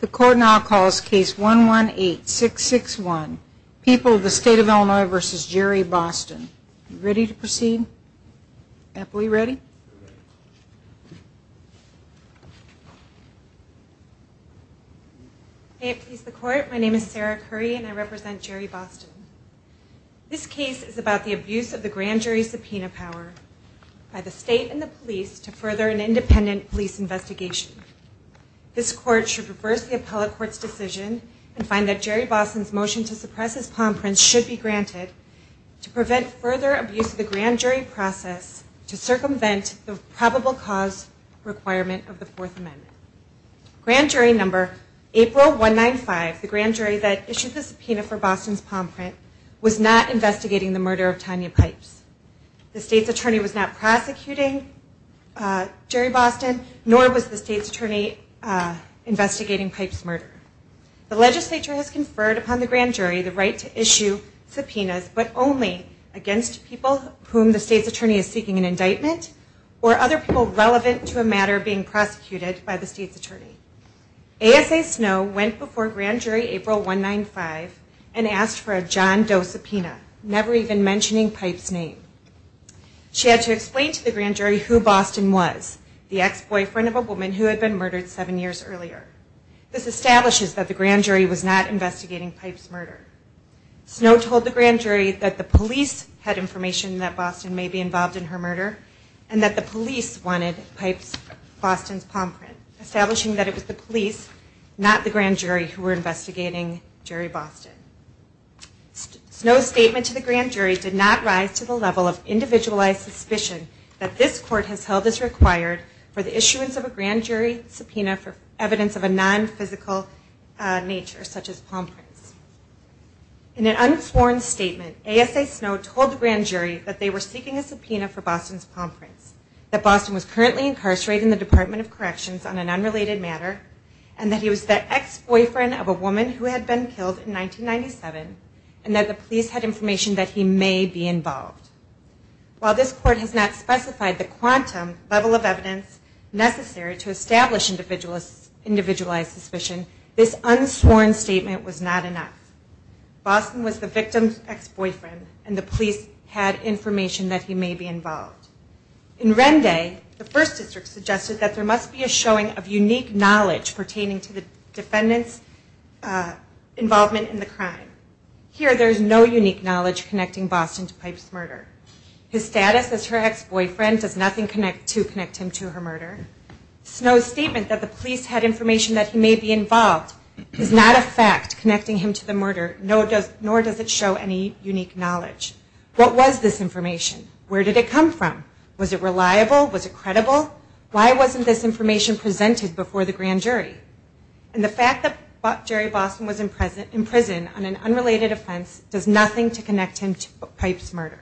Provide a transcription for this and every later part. The court now calls case 118661, People of the State of Illinois v. Jerry Boston. Are you ready to proceed? Ethel, are you ready? May it please the court, my name is Sarah Curry and I represent Jerry Boston. This case is about the abuse of the grand jury subpoena power by the state and the police to further an independent police investigation. This court should reverse the appellate court's decision and find that Jerry Boston's motion to suppress his palm print should be granted to prevent further abuse of the grand jury process to circumvent the probable cause requirement of the Fourth Amendment. Grand jury number April 195, the grand jury that issued the subpoena for Boston's palm print, was not investigating the murder of Tanya Pipes. The state's attorney was not prosecuting Jerry Boston nor was the state's attorney investigating Pipes' murder. The legislature has conferred upon the grand jury the right to issue subpoenas but only against people whom the state's attorney is seeking an indictment or other people relevant to a matter being prosecuted by the state's attorney. ASA Snow went before grand jury April 195 and asked for a John Doe subpoena, never even mentioning Pipes' name. She had to explain to the grand jury who Boston was, the ex-boyfriend of a woman who had been murdered seven years earlier. This establishes that the grand jury was not investigating Pipes' murder. Snow told the grand jury that the police had information that Boston may be involved in her murder and that the police wanted Pipes' Boston's palm print, establishing that it was the police, not the grand jury, who were investigating Jerry Boston. Snow's statement to the grand jury did not rise to the level of individualized suspicion that this court has held as required for the issuance of a grand jury subpoena for evidence of a non-physical nature such as palm prints. In an unformed statement, ASA Snow told the grand jury that they were seeking a subpoena for Boston's palm prints, that Boston was currently incarcerated in the Department of Corrections on an unrelated matter, and that he was the ex-boyfriend of a woman who had been killed in 1997, and that the police had information that he may be involved. While this court has not specified the quantum level of evidence necessary to establish individualized suspicion, this unsworn statement was not enough. Boston was the victim's ex-boyfriend, and the police had information that he may be involved. In Rende, the First District suggested that there must be a showing of unique knowledge pertaining to the defendant's involvement in the crime. Here, there is no unique knowledge connecting Boston to Pipe's murder. His status as her ex-boyfriend does nothing to connect him to her murder. Snow's statement that the police had information that he may be involved is not a fact connecting him to the murder, nor does it show any unique knowledge. What was this information? Was it reliable? Was it credible? Why wasn't this information presented before the grand jury? And the fact that Jerry Boston was in prison on an unrelated offense does nothing to connect him to Pipe's murder.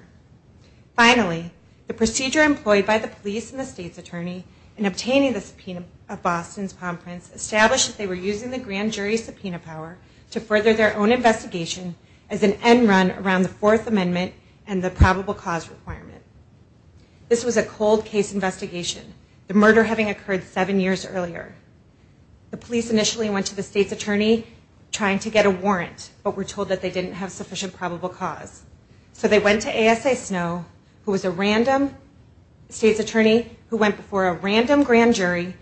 Finally, the procedure employed by the police and the state's attorney in obtaining the subpoena of Boston's palm prints established that they were using the grand jury's subpoena power to further their own investigation as an end run around the Fourth Amendment and the probable cause requirement. This was a cold case investigation, the murder having occurred seven years earlier. The police initially went to the state's attorney trying to get a warrant, but were told that they didn't have sufficient probable cause. So they went to ASA Snow, who was a random state's attorney who went before a random grand jury,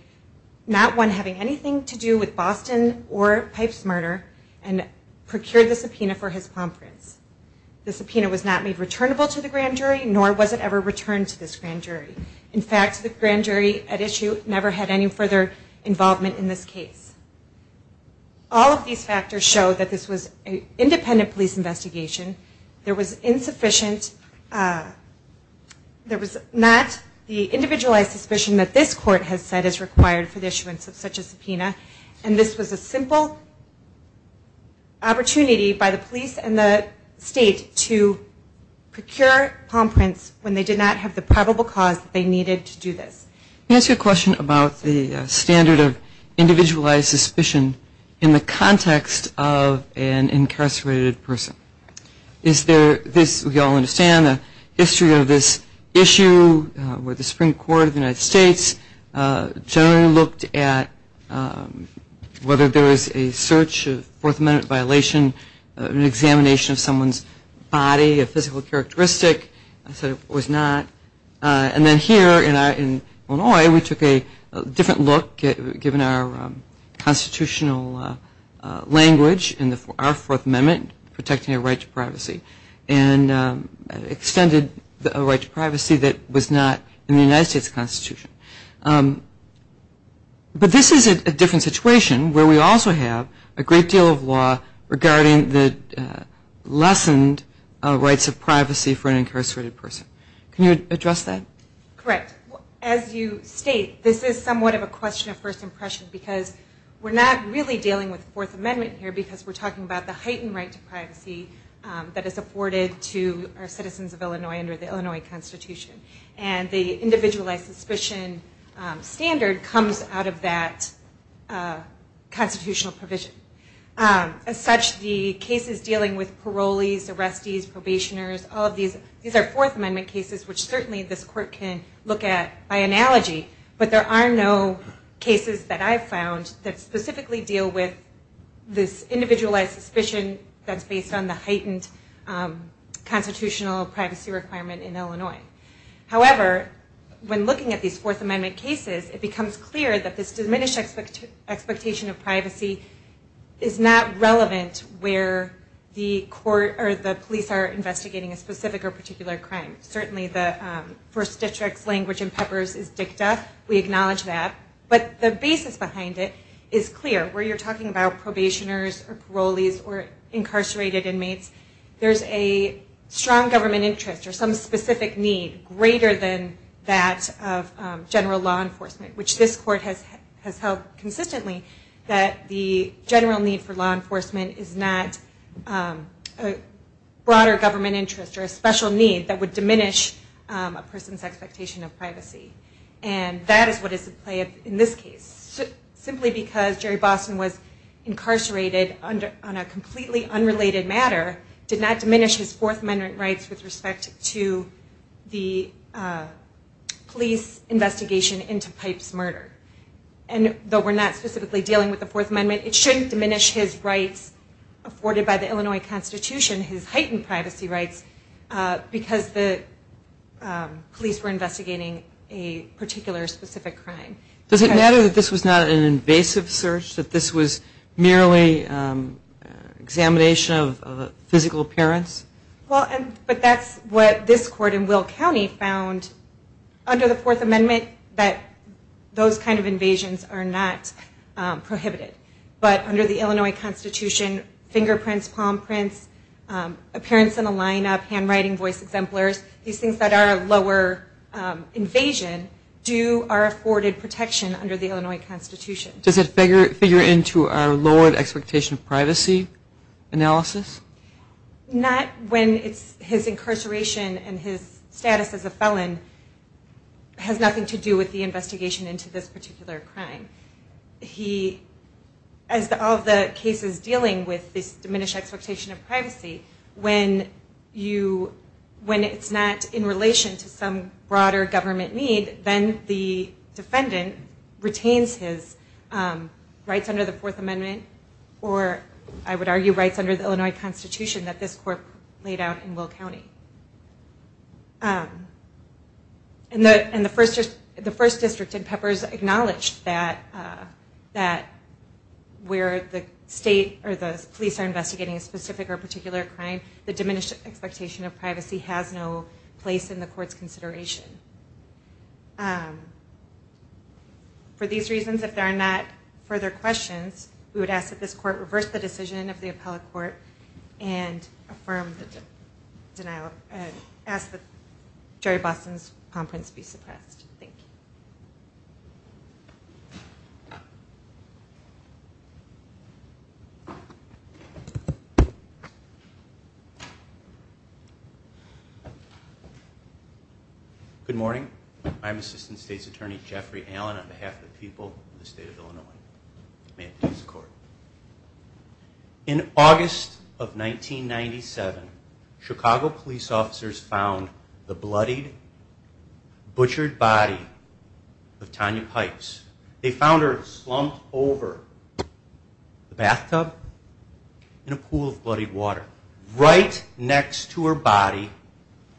not one having anything to do with Boston or Pipe's murder, and procured the subpoena for his palm prints. The subpoena was not made returnable to the grand jury, nor was it ever returned to this grand jury. In fact, the grand jury at issue never had any further involvement in this case. All of these factors show that this was an independent police investigation. There was insufficient, there was not the individualized suspicion that this court has said is required for the issuance of such a subpoena, and this was a simple opportunity by the police and the state to procure palm prints when they did not have the probable cause that they needed to do this. Can I ask you a question about the standard of individualized suspicion in the context of an incarcerated person? Is there this, we all understand, the history of this issue where the Supreme Court of the United States generally looked at whether there was a search, a Fourth Amendment violation, an examination of someone's body, a physical characteristic. I said it was not. And then here in Illinois, we took a different look, given our constitutional language in our Fourth Amendment, protecting a right to privacy, and extended a right to privacy that was not in the United States Constitution. But this is a different situation where we also have a great deal of law regarding the lessened rights of privacy for an incarcerated person. Can you address that? Correct. As you state, this is somewhat of a question of first impression because we're not really dealing with the Fourth Amendment here because we're talking about the heightened right to privacy that is afforded to our citizens of Illinois under the Illinois Constitution. And the individualized suspicion standard comes out of that constitutional provision. As such, the cases dealing with parolees, arrestees, probationers, all of these are Fourth Amendment cases, which certainly this court can look at by analogy. But there are no cases that I've found that specifically deal with this individualized suspicion that's based on the heightened constitutional privacy requirement in Illinois. However, when looking at these Fourth Amendment cases, it becomes clear that this diminished expectation of privacy is not relevant where the police are investigating a specific or particular crime. Certainly the First District's language in PEPPERS is dicta. We acknowledge that. But the basis behind it is clear. Where you're talking about probationers or parolees or incarcerated inmates, there's a strong government interest or some specific need greater than that of general law enforcement, which this court has held consistently that the general need for law enforcement is not a broader government interest or a special need that would diminish a person's expectation of privacy. And that is what is at play in this case. Simply because Jerry Boston was incarcerated on a completely unrelated matter did not diminish his Fourth Amendment rights with respect to the police investigation into Pipe's murder. And though we're not specifically dealing with the Fourth Amendment, it shouldn't diminish his rights afforded by the Illinois Constitution, his heightened privacy rights, because the police were investigating a particular specific crime. Does it matter that this was not an invasive search, that this was merely examination of a physical appearance? Well, but that's what this court in Will County found under the Fourth Amendment that those kind of invasions are not prohibited. But under the Illinois Constitution, fingerprints, palm prints, appearance in a lineup, handwriting, voice exemplars, these things that are a lower invasion do are afforded protection under the Illinois Constitution. Does it figure into our lowered expectation of privacy analysis? Not when his incarceration and his status as a felon has nothing to do with the investigation into this particular crime. He, as all the cases dealing with this diminished expectation of privacy, when it's not in relation to some broader government need, then the defendant retains his rights under the Fourth Amendment or, I would argue, rights under the Illinois Constitution that this court laid out in Will County. And the First District in Peppers acknowledged that where the state or the police are investigating a specific or particular crime, the diminished expectation of privacy has no place in the court's consideration. For these reasons, if there are not further questions, we would ask that this court reverse the decision of the appellate court and ask that Jerry Boston's palm prints be suppressed. Thank you. Good morning. I'm Assistant State's Attorney Jeffrey Allen on behalf of the people of the state of Illinois. May it please the court. In August of 1997, Chicago police officers found the bloodied, butchered body of Tanya Pipes. They found her slumped over the bathtub in a pool of bloodied water. Right next to her body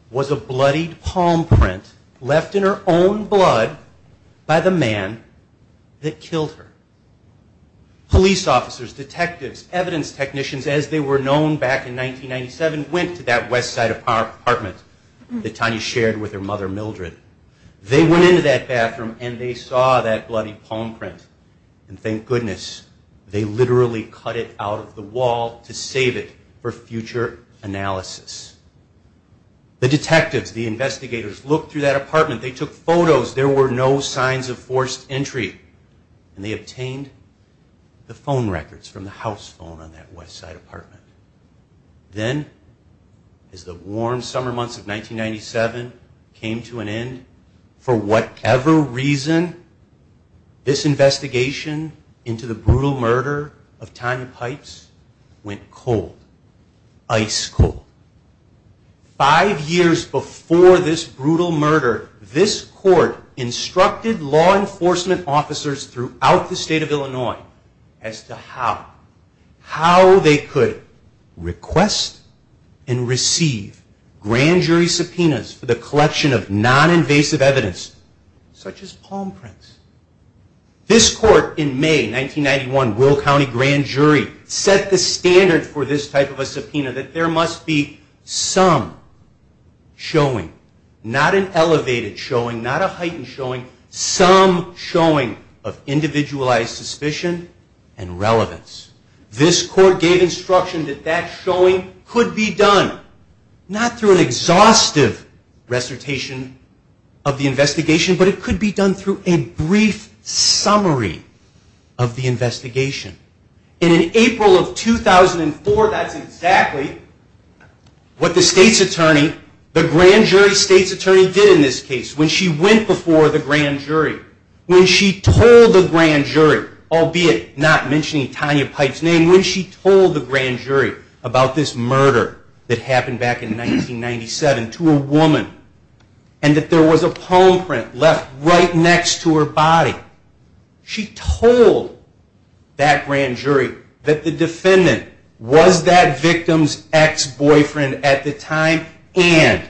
was a bloodied palm print left in her own blood by the man that killed her. Police officers, detectives, evidence technicians, as they were known back in 1997, went to that west side apartment that Tanya shared with her mother Mildred. They went into that bathroom and they saw that bloodied palm print. And thank goodness, they literally cut it out of the wall to save it for future analysis. The detectives, the investigators, looked through that apartment. They took photos. There were no signs of forced entry. And they obtained the phone records from the house phone on that west side apartment. Then as the warm summer months of 1997 came to an end, for whatever reason, this investigation into the brutal murder of Tanya Pipes went cold. Ice cold. Five years before this brutal murder, this court instructed law enforcement officers throughout the state of Illinois as to how they could request and receive grand jury subpoenas for the collection of non-invasive evidence such as palm prints. This court in May 1991, Will County Grand Jury, set the standard for this type of a subpoena that there must be some showing, not an elevated showing, not a heightened showing, some showing of individualized suspicion and relevance. This court gave instruction that that showing could be done, not through an exhaustive recitation of the investigation, but it could be done through a brief summary of the investigation. And in April of 2004, that's exactly what the state's attorney, the grand jury state's attorney did in this case. When she went before the grand jury, when she told the grand jury, albeit not mentioning Tanya Pipes' name, when she told the grand jury about this murder that happened back in 1997 to a woman and that there was a palm print left right next to her body, she told that grand jury that the defendant was that victim's ex-boyfriend at the time and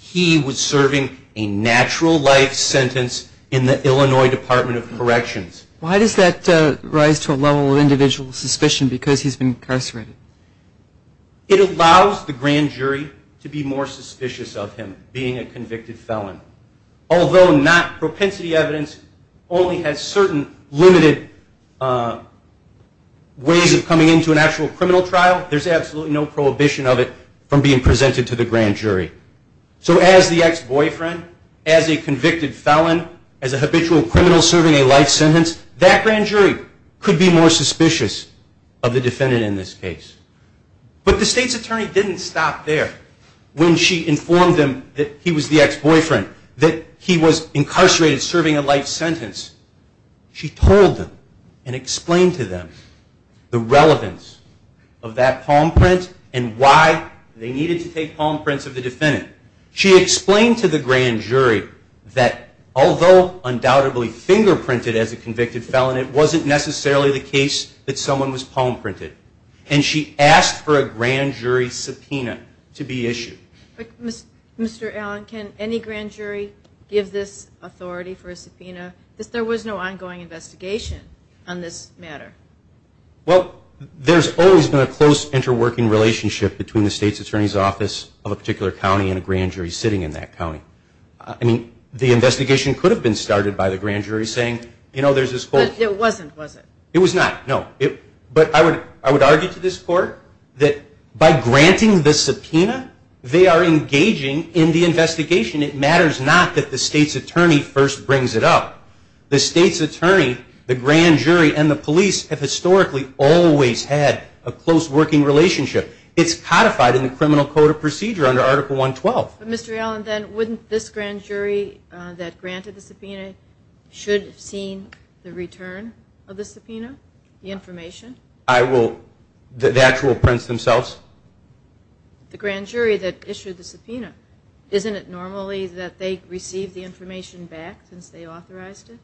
he was serving a natural life sentence in the Illinois Department of Corrections. Why does that rise to a level of individual suspicion because he's been incarcerated? It allows the grand jury to be more suspicious of him being a convicted felon. Although not propensity evidence only has certain limited ways of coming into an actual criminal trial, there's absolutely no prohibition of it from being presented to the grand jury. So as the ex-boyfriend, as a convicted felon, as a habitual criminal serving a life sentence, that grand jury could be more suspicious of the defendant in this case. But the state's attorney didn't stop there when she informed them that he was the ex-boyfriend, that he was incarcerated serving a life sentence. She told them and explained to them the relevance of that palm print and why they needed to take palm prints of the defendant. She explained to the grand jury that although undoubtedly fingerprinted as a convicted felon, it wasn't necessarily the case that someone was palm printed. And she asked for a grand jury subpoena to be issued. But Mr. Allen, can any grand jury give this authority for a subpoena? There was no ongoing investigation on this matter. Well, there's always been a close interworking relationship between the state's attorney's office of a particular county and a grand jury sitting in that county. I mean, the investigation could have been started by the grand jury saying, you know, there's this whole... But it wasn't, was it? It was not, no. But I would argue to this court that by granting the subpoena, they are engaging in the investigation. It matters not that the state's attorney first brings it up. The state's attorney, the grand jury, and the police have historically always had a close working relationship. It's codified in the Criminal Code of Procedure under Article 112. But Mr. Allen, then wouldn't this grand jury that granted the subpoena should have seen the return of the subpoena? The information? The actual prints themselves? The grand jury that issued the subpoena. Isn't it normally that they receive the information back since they authorized it?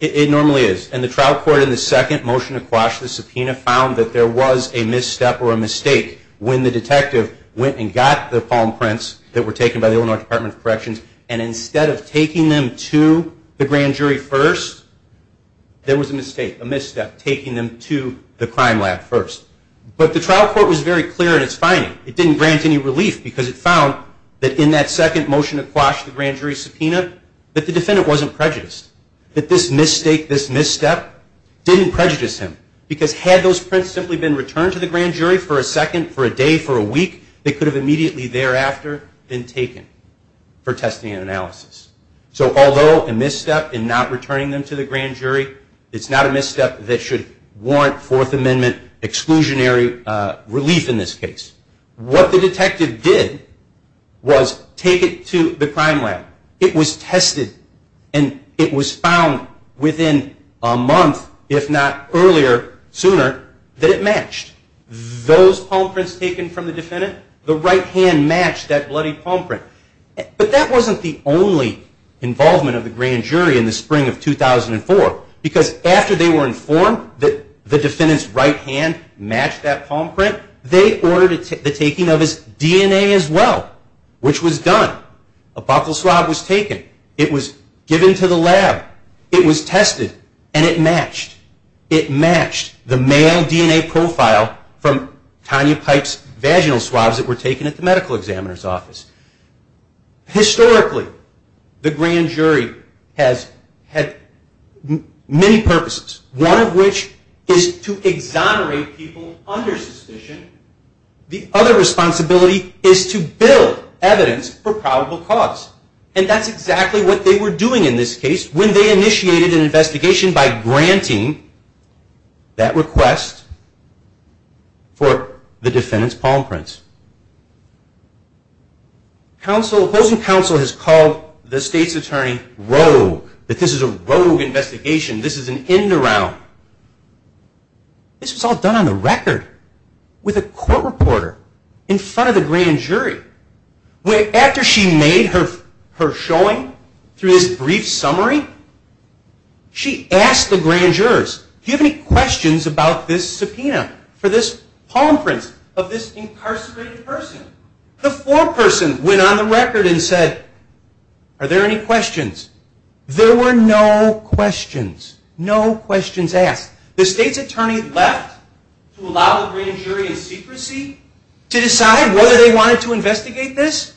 It normally is. And the trial court in the second motion to quash the subpoena found that there was a misstep or a mistake when the detective went and got the palm prints that were taken by the Illinois Department of Corrections. And instead of taking them to the grand jury first, there was a mistake, a misstep, taking them to the crime lab first. But the trial court was very clear in its finding. It didn't grant any relief because it found that in that second motion to quash the grand jury subpoena, that the defendant wasn't prejudiced. That this mistake, this misstep, didn't prejudice him. Because had those prints simply been returned to the grand jury for a second, for a day, for a week, they could have immediately thereafter been taken for testing and analysis. So although a misstep in not returning them to the grand jury, it's not a misstep that should warrant Fourth Amendment exclusionary relief in this case. What the detective did was take it to the crime lab. It was tested. And it was found within a month, if not earlier, sooner, that it matched. Those palm prints taken from the defendant, the right hand matched that bloody palm print. But that wasn't the only involvement of the grand jury in the spring of 2004. Because after they were informed that the defendant's right hand matched that palm print, they ordered the taking of his DNA as well. Which was done. A buccal swab was taken. It was given to the lab. It was tested. And it matched. It matched the male DNA profile from Tanya Pipe's vaginal swabs that were taken at the medical examiner's office. Historically, the grand jury has had many purposes. One of which is to exonerate people under suspicion. The other responsibility is to build evidence for probable cause. And that's exactly what they were doing in this case when they initiated an investigation by granting that request for the defendant's palm prints. Opposing counsel has called the state's attorney rogue. That this is a rogue investigation. This is an end around. This was all done on the record with a court reporter in front of the grand jury. After she made her showing through this brief summary, she asked the grand jurors, do you have any questions about this subpoena for this palm print of this incarcerated person? The foreperson went on the record and said, are there any questions? There were no questions. No questions asked. The state's attorney left to allow the grand jury in secrecy to decide whether they wanted to investigate this.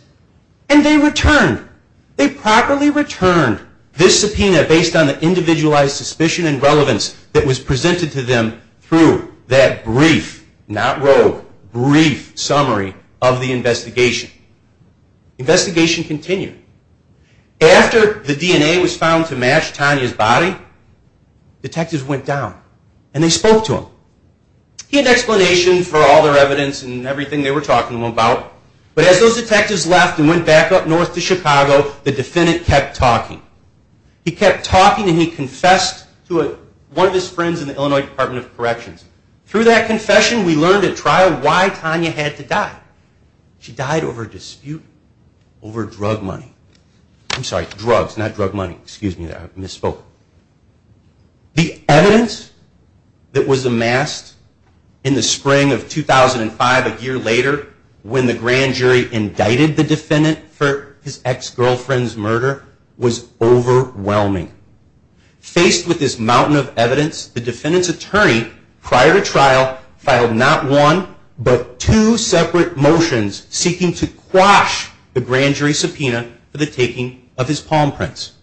And they returned. They properly returned this subpoena based on the individualized suspicion and relevance that was presented to them through that brief, not rogue, brief summary of the investigation. Investigation continued. After the DNA was found to match Tanya's body, detectives went down. And they spoke to him. He had an explanation for all their evidence and everything they were talking about. But as those detectives left and went back up north to Chicago, the defendant kept talking. He kept talking and he confessed to one of his friends in the Illinois Department of Corrections. Through that confession, we learned at trial why Tanya had to die. She died over a dispute over drug money. I'm sorry, drugs, not drug money. The evidence that was amassed in the spring of 2005, a year later, when the grand jury indicted the defendant for his ex-girlfriend's murder was overwhelming. Faced with this mountain of evidence, the defendant's attorney prior to trial filed not one, but two separate motions seeking to quash the grand jury subpoena for the taking of his palm prints.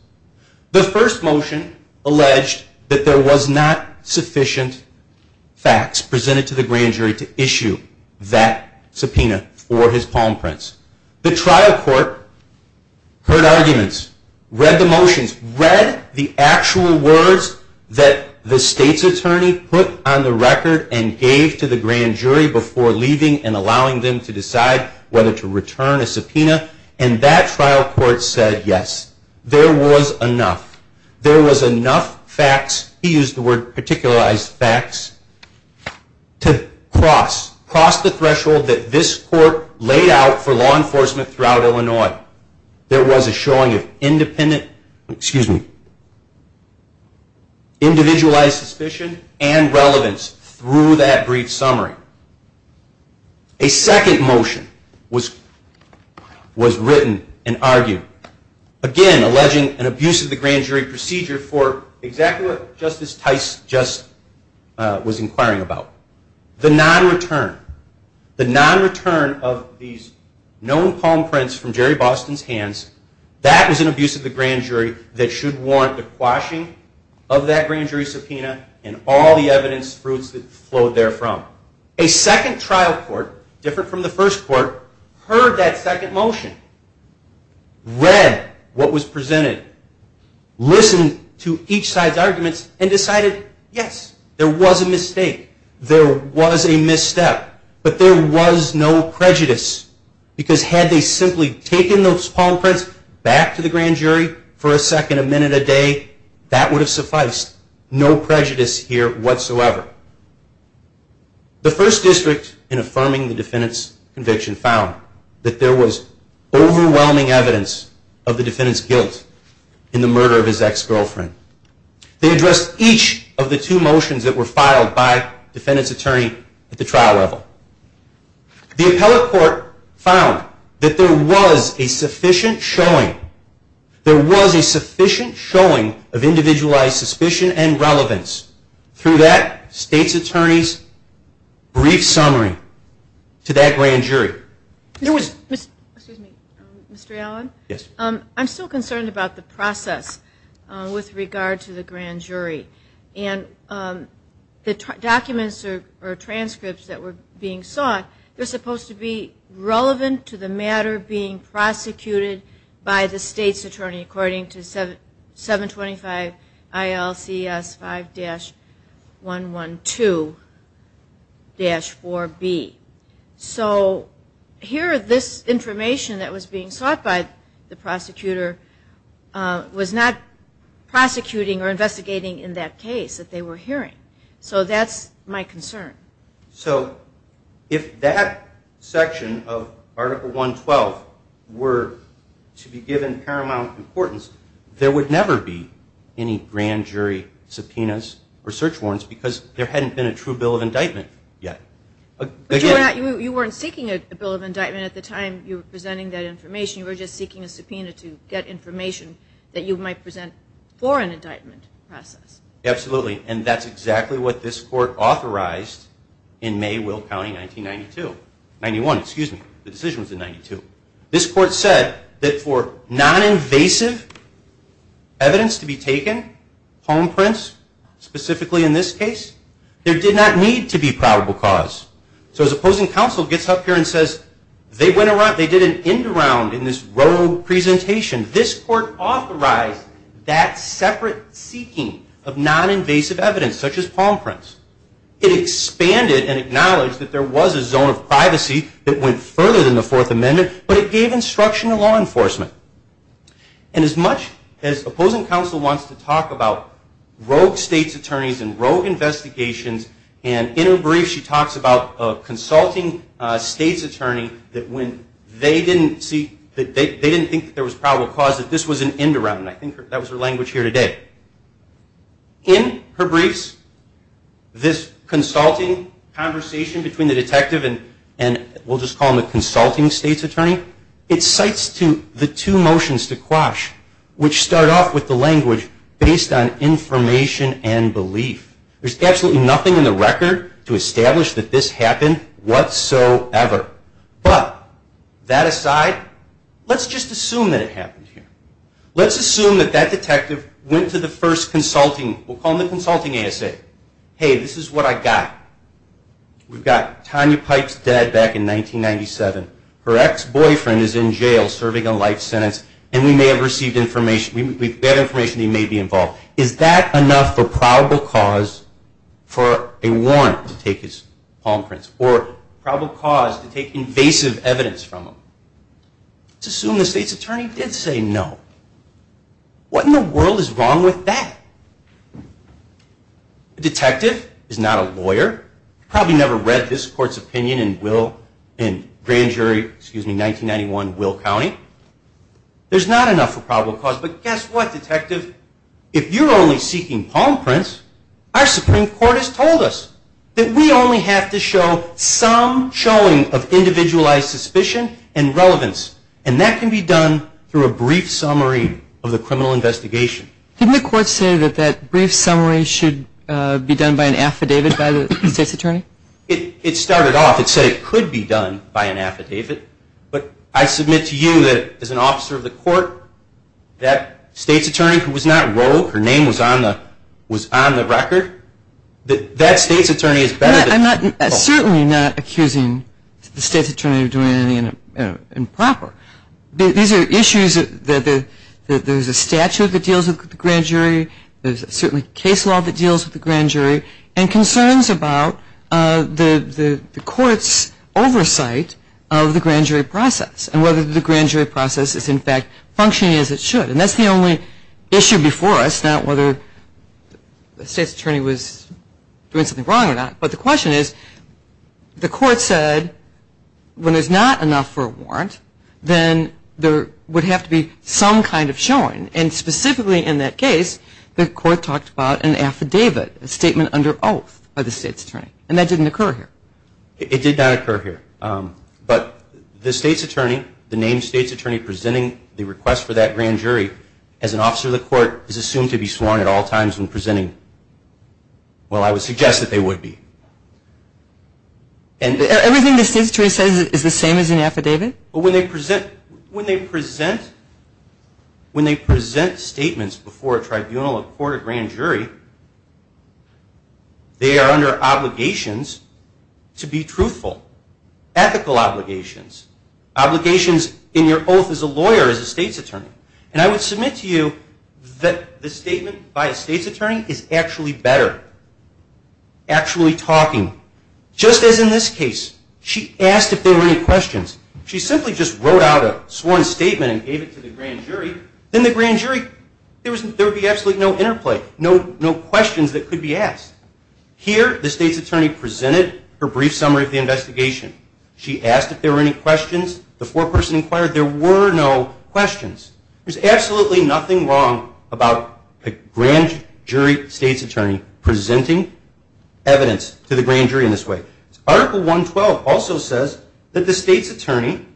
The first motion alleged that there was not sufficient facts presented to the grand jury to issue that subpoena for his palm prints. The trial court heard arguments, read the motions, read the actual words that the state's attorney put on the record and gave to the grand jury before leaving and allowing them to decide whether to return a subpoena. And that trial court said, yes, there was enough. There was enough facts, he used the word particularized facts, to cross. Cross the threshold that this court laid out for law enforcement throughout Illinois. There was a showing of independent, excuse me, individualized suspicion and relevance through that brief summary. A second motion was written and argued. Again, alleging an abuse of the grand jury procedure for exactly what Justice Tice was inquiring about. The non-return, the non-return of these known palm prints from Jerry Boston's hands, that was an abuse of the grand jury that should warrant the quashing of that grand jury subpoena and all the evidence fruits that flowed therefrom. A second trial court, different from the first court, heard that second motion, read what was presented, listened to each side's arguments, and decided, yes, there was a mistake, there was a misstep, but there was no prejudice. Because had they simply taken those palm prints back to the grand jury for a second, a minute, a day, that would have sufficed. No prejudice here whatsoever. The first district in affirming the defendant's conviction found that there was overwhelming evidence of the defendant's guilt in the murder of his ex-girlfriend. They addressed each of the two motions that were filed by defendant's attorney at the trial level. The appellate court found that there was a sufficient showing, there was a sufficient showing of individualized suspicion and relevance. Through that, state's attorneys' brief summary to that grand jury. There was, excuse me, Mr. Allen? Yes. I'm still concerned about the process with regard to the grand jury. And the documents or transcripts that were being sought, they're supposed to be relevant to the matter being prosecuted by the state's attorney, according to 725 ILCS 5-112-4B. So here this information that was being sought by the prosecutor was not prosecuting or investigating in that case that they were hearing. So that's my concern. So if that section of Article 112 were to be given paramount importance, there would never be any grand jury subpoenas or search warrants because there hadn't been a true bill of indictment yet. But you weren't seeking a bill of indictment at the time you were presenting that information. You were just seeking a subpoena to get information that you might present for an indictment process. Absolutely. And that's exactly what this court authorized in May, Will County, 1992. 91, excuse me. The decision was in 92. This court said that for non-invasive evidence to be taken, home prints specifically in this case, there did not need to be probable cause. So as opposing counsel gets up here and says, they went around, they did an end around in this rogue presentation, this court authorized that separate seeking of non-invasive evidence, such as palm prints. It expanded and acknowledged that there was a zone of privacy that went further than the Fourth Amendment, but it gave instruction to law enforcement. And as much as opposing counsel wants to talk about rogue state's attorneys and rogue investigations and inner briefs, she talks about the consulting state's attorney that when they didn't think there was probable cause, that this was an end around. I think that was her language here today. In her briefs, this consulting conversation between the detective and we'll just call him the consulting state's attorney, it cites the two motions to quash, which start off with the language based on information and belief. There's absolutely nothing in the record to establish that this happened whatsoever. But that aside, let's just assume that it happened here. Let's assume that that detective went to the first consulting, we'll call him the consulting ASA. Hey, this is what I got. We've got Tanya Pipe's dad back in 1997. Her ex-boyfriend is in jail serving a life sentence and we may have received information, we've got information that he may be involved. Is that enough for probable cause to quash this? That's not enough for probable cause for a warrant to take his palm prints or probable cause to take invasive evidence from him. Let's assume the state's attorney did say no. What in the world is wrong with that? A detective is not a lawyer. Probably never read this court's opinion in grand jury 1991 Will County. There's not enough for probable cause. But guess what? If you're only seeking palm prints, our Supreme Court has told us that we only have to show some showing of individualized suspicion and relevance. And that can be done through a brief summary of the criminal investigation. Didn't the court say that that brief summary should be done by an affidavit by the state's attorney? It started off, it said it could be done by an affidavit. But I submit to you that as an officer of the court, that state's attorney should not be able to do that. If the state's attorney, who was not wrote, her name was on the record, that state's attorney is better than... I'm certainly not accusing the state's attorney of doing anything improper. These are issues that there's a statute that deals with the grand jury, there's certainly case law that deals with the grand jury, and concerns about the court's oversight of the grand jury process and whether the grand jury process is, in fact, functioning as it should. And that's the only issue before us, not whether the state's attorney was doing something wrong or not. But the question is, the court said when there's not enough for a warrant, then there would have to be some kind of showing. And specifically in that case, the court talked about an affidavit, a statement under oath by the state's attorney. And that didn't occur here. It did not occur here. But the state's attorney, the named state's attorney presenting the request for that grand jury, as an officer of the court, is assumed to be sworn at all times when presenting. Well, I would suggest that they would be. And everything the state's attorney says is the same as an affidavit? When they present statements before a tribunal, a court, a grand jury, they are under obligations to present statements before a tribunal, a court, a grand jury, and to present statements before a grand jury. Obligations to be truthful. Ethical obligations. Obligations in your oath as a lawyer, as a state's attorney. And I would submit to you that the statement by a state's attorney is actually better. Actually talking. Just as in this case, she asked if there were any questions. She simply just wrote out a sworn statement and gave it to the grand jury. Then the grand jury, there would be absolutely no interplay, no questions that could be asked. Here, the state's attorney presented her brief summary of the investigation. She asked if there were any questions. The foreperson inquired. There were no questions. There's absolutely nothing wrong about a grand jury state's attorney presenting evidence to the grand jury in this way. Article 112 also says that the state's attorney,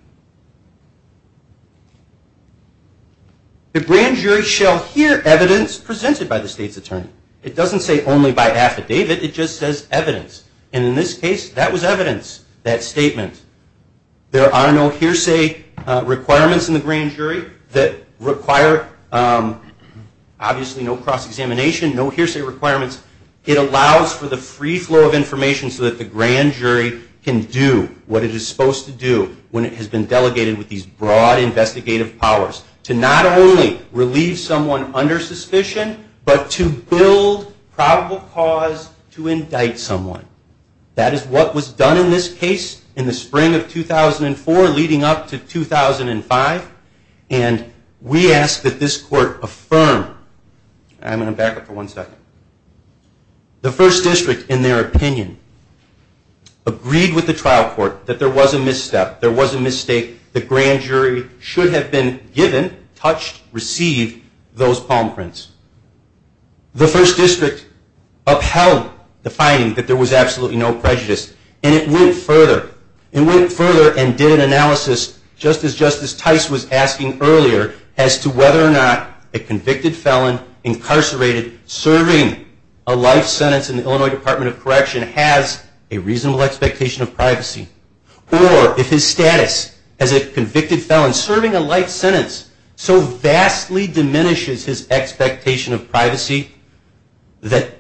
the grand jury shall hear evidence presented by the state's attorney. It doesn't say only by affidavit. It just says evidence. And in this case, that was evidence, that statement. There are no hearsay requirements in the grand jury that require, obviously, no cross-examination, no hearsay requirements. It allows for the free flow of information so that the grand jury can do what it is supposed to do when it has been delegated with these broad investigative powers. To not only relieve someone under suspicion, but to build probable cause to indict someone. That is what was done in this case in the spring of 2004, leading up to 2005. And we ask that this court affirm. I'm going to back up for one second. The first district, in their opinion, agreed with the trial court that there was a misstep, there was a mistake. The grand jury should have been given the opportunity to make that mistake. And the grand jury should have been touched, received those palm prints. The first district upheld the finding that there was absolutely no prejudice. And it went further and did an analysis, just as Justice Tice was asking earlier, as to whether or not a convicted felon incarcerated serving a life sentence in the Illinois Department of Correction has a reasonable expectation of privacy. Or if his status as a convicted felon serving a life sentence so vastly diminishes his expectation of privacy that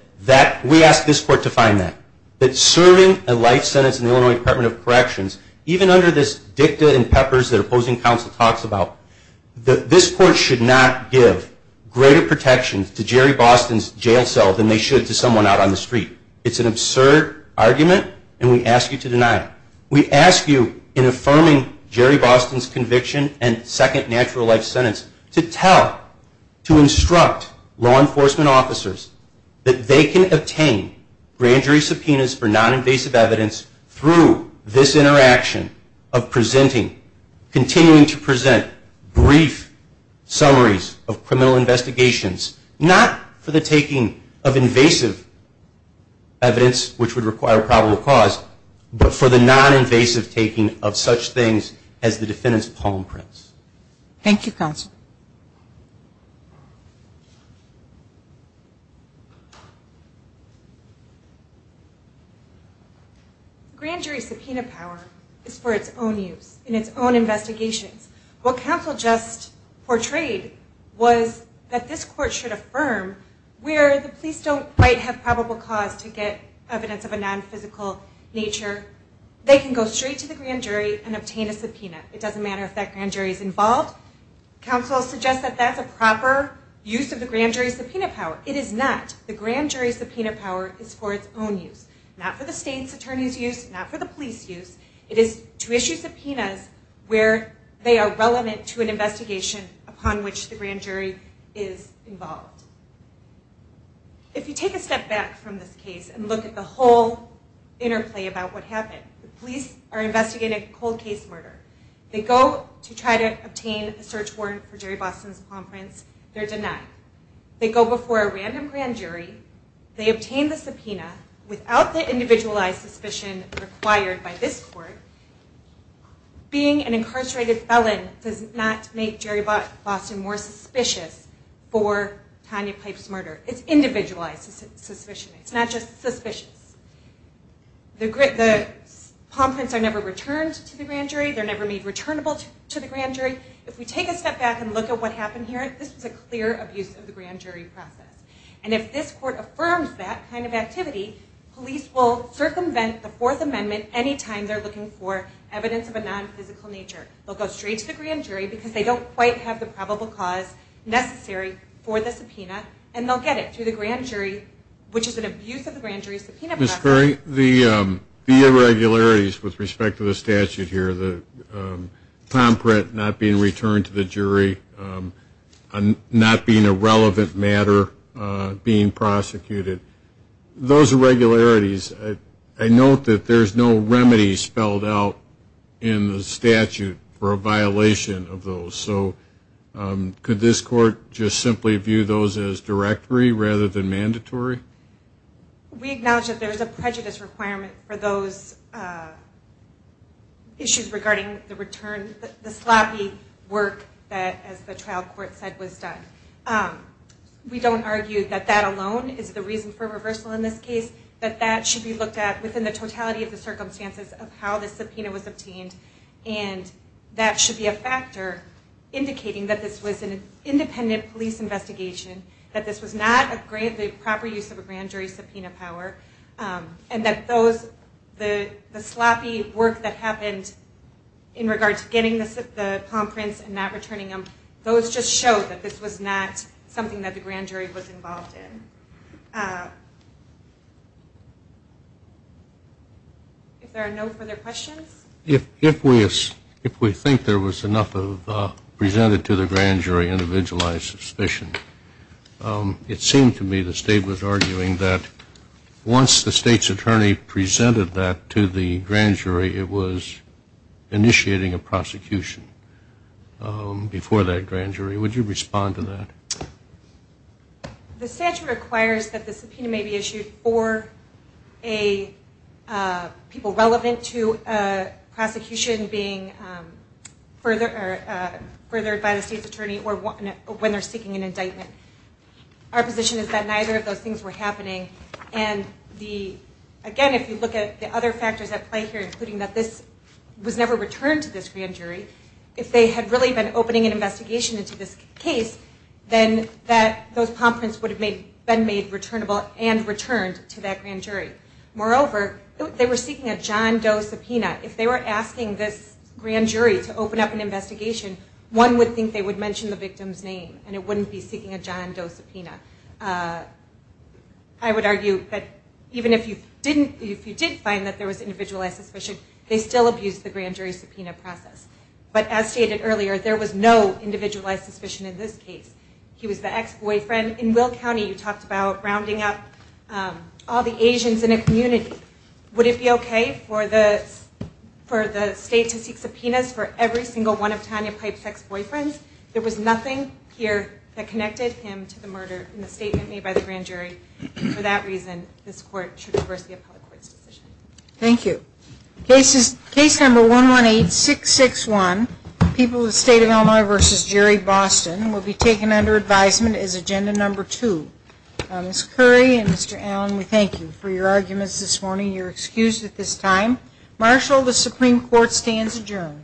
we ask this court to find that. That serving a life sentence in the Illinois Department of Correction, even under this dicta and peppers that opposing counsel talks about, this court should not give greater protection to Jerry Boston's jail cell than they should to someone out on the street. It's an absurd argument and we ask you to deny it. We ask you, in affirming Jerry Boston's conviction and second natural life sentence, to tell, to instruct law enforcement officers that they can obtain grand jury subpoenas for non-invasive evidence through this interaction of presenting, continuing to present brief summaries of criminal investigations, not for the taking of invasive evidence, which would require probable cause, but for the non-invasive evidence. We recommend that a court which has the potential evidence for an invasive taking of such things as the defendant's palm prints. Thank you counsel. What counsel just kind of put up for debate was, that this court should affirm where the police don't have probable cause for evidence of a non-physical nature, they can go still. straight to the grand jury and obtain a subpoena. It doesn't matter if that grand jury is involved. Counsel suggests that that's a proper use of the grand jury subpoena power. It is not. The grand jury subpoena power is for its own use. Not for the state's attorney's use, not for the police use. It is to issue subpoenas where they are relevant to an investigation upon which the grand jury is involved. If you take a step back from this case and look at the whole interplay about what happened, the police, the grand jury, and the police are investigating a cold case murder. They go to try to obtain a search warrant for Jerry Boston's palm prints. They're denied. They go before a random grand jury. They obtain the subpoena without the individualized suspicion required by this court. Being an incarcerated felon does not make Jerry Boston more suspicious for Tanya Pipe's murder. It's individualized suspicion. It's not just suspicious. The palm prints are not found. They're never returned to the grand jury. They're never made returnable to the grand jury. If we take a step back and look at what happened here, this is a clear abuse of the grand jury process. And if this court affirms that kind of activity, police will circumvent the Fourth Amendment any time they're looking for evidence of a nonphysical nature. They'll go straight to the grand jury because they don't quite have the probable cause necessary for the subpoena, and they'll get it through the grand jury, which is an abuse of the grand jury subpoena that's not a crime. Tom Pratt not being returned to the jury, not being a relevant matter being prosecuted, those irregularities, I note that there's no remedy spelled out in the statute for a violation of those. So could this court just simply view those as directory rather than mandatory? We acknowledge that there's a prejudice requirement for those issues regarding the return, the sloppy work that, as the trial court said, was done. We don't argue that that alone is the reason for reversal in this case, but that should be looked at within the totality of the circumstances of how the subpoena was obtained, and that should be a factor indicating that this was an independent police investigation, that this was not a proper use of a grand jury subpoena power, and that the sloppy work that happened in regard to getting the palm prints and not returning them, those just show that this was not something that the grand jury was involved in. If there are no further questions? If we think there was enough presented to the grand jury individualized suspicion, it seemed to me the state was arguing that once the state's attorney presented that to the grand jury, it was initiating a prosecution before that grand jury. Would you respond to that? The statute requires that the subpoena may be issued for a people relevant to the grand jury. The prosecution being furthered by the state's attorney or when they're seeking an indictment. Our position is that neither of those things were happening, and again, if you look at the other factors at play here, including that this was never returned to this grand jury, if they had really been opening an investigation into this case, then those palm prints would have been made returnable and returned to that grand jury. If they were asking this grand jury to open up an investigation, one would think they would mention the victim's name and it wouldn't be seeking a John Doe subpoena. I would argue that even if you did find that there was individualized suspicion, they still abused the grand jury subpoena process. But as stated earlier, there was no individualized suspicion in this case. He was the ex- boyfriend. In Will County, you talked about rounding up all the Asians in a community. Would it be okay for the subpoena to be rounded up? Would it be okay for the state to seek subpoenas for every single one of Tanya Pipe's ex-boyfriends? There was nothing here that connected him to the murder in the statement made by the grand jury. For that reason, this court should reverse the appellate court's decision. Thank you. Case number 118661, People of the State of Illinois v. Jerry Boston, will be taken under advisement as agenda number two. Ms. Curry and Mr. Allen, we thank you for your arguments this morning. You're excused at this time. Marshall, the Supreme Court, stands adjourned.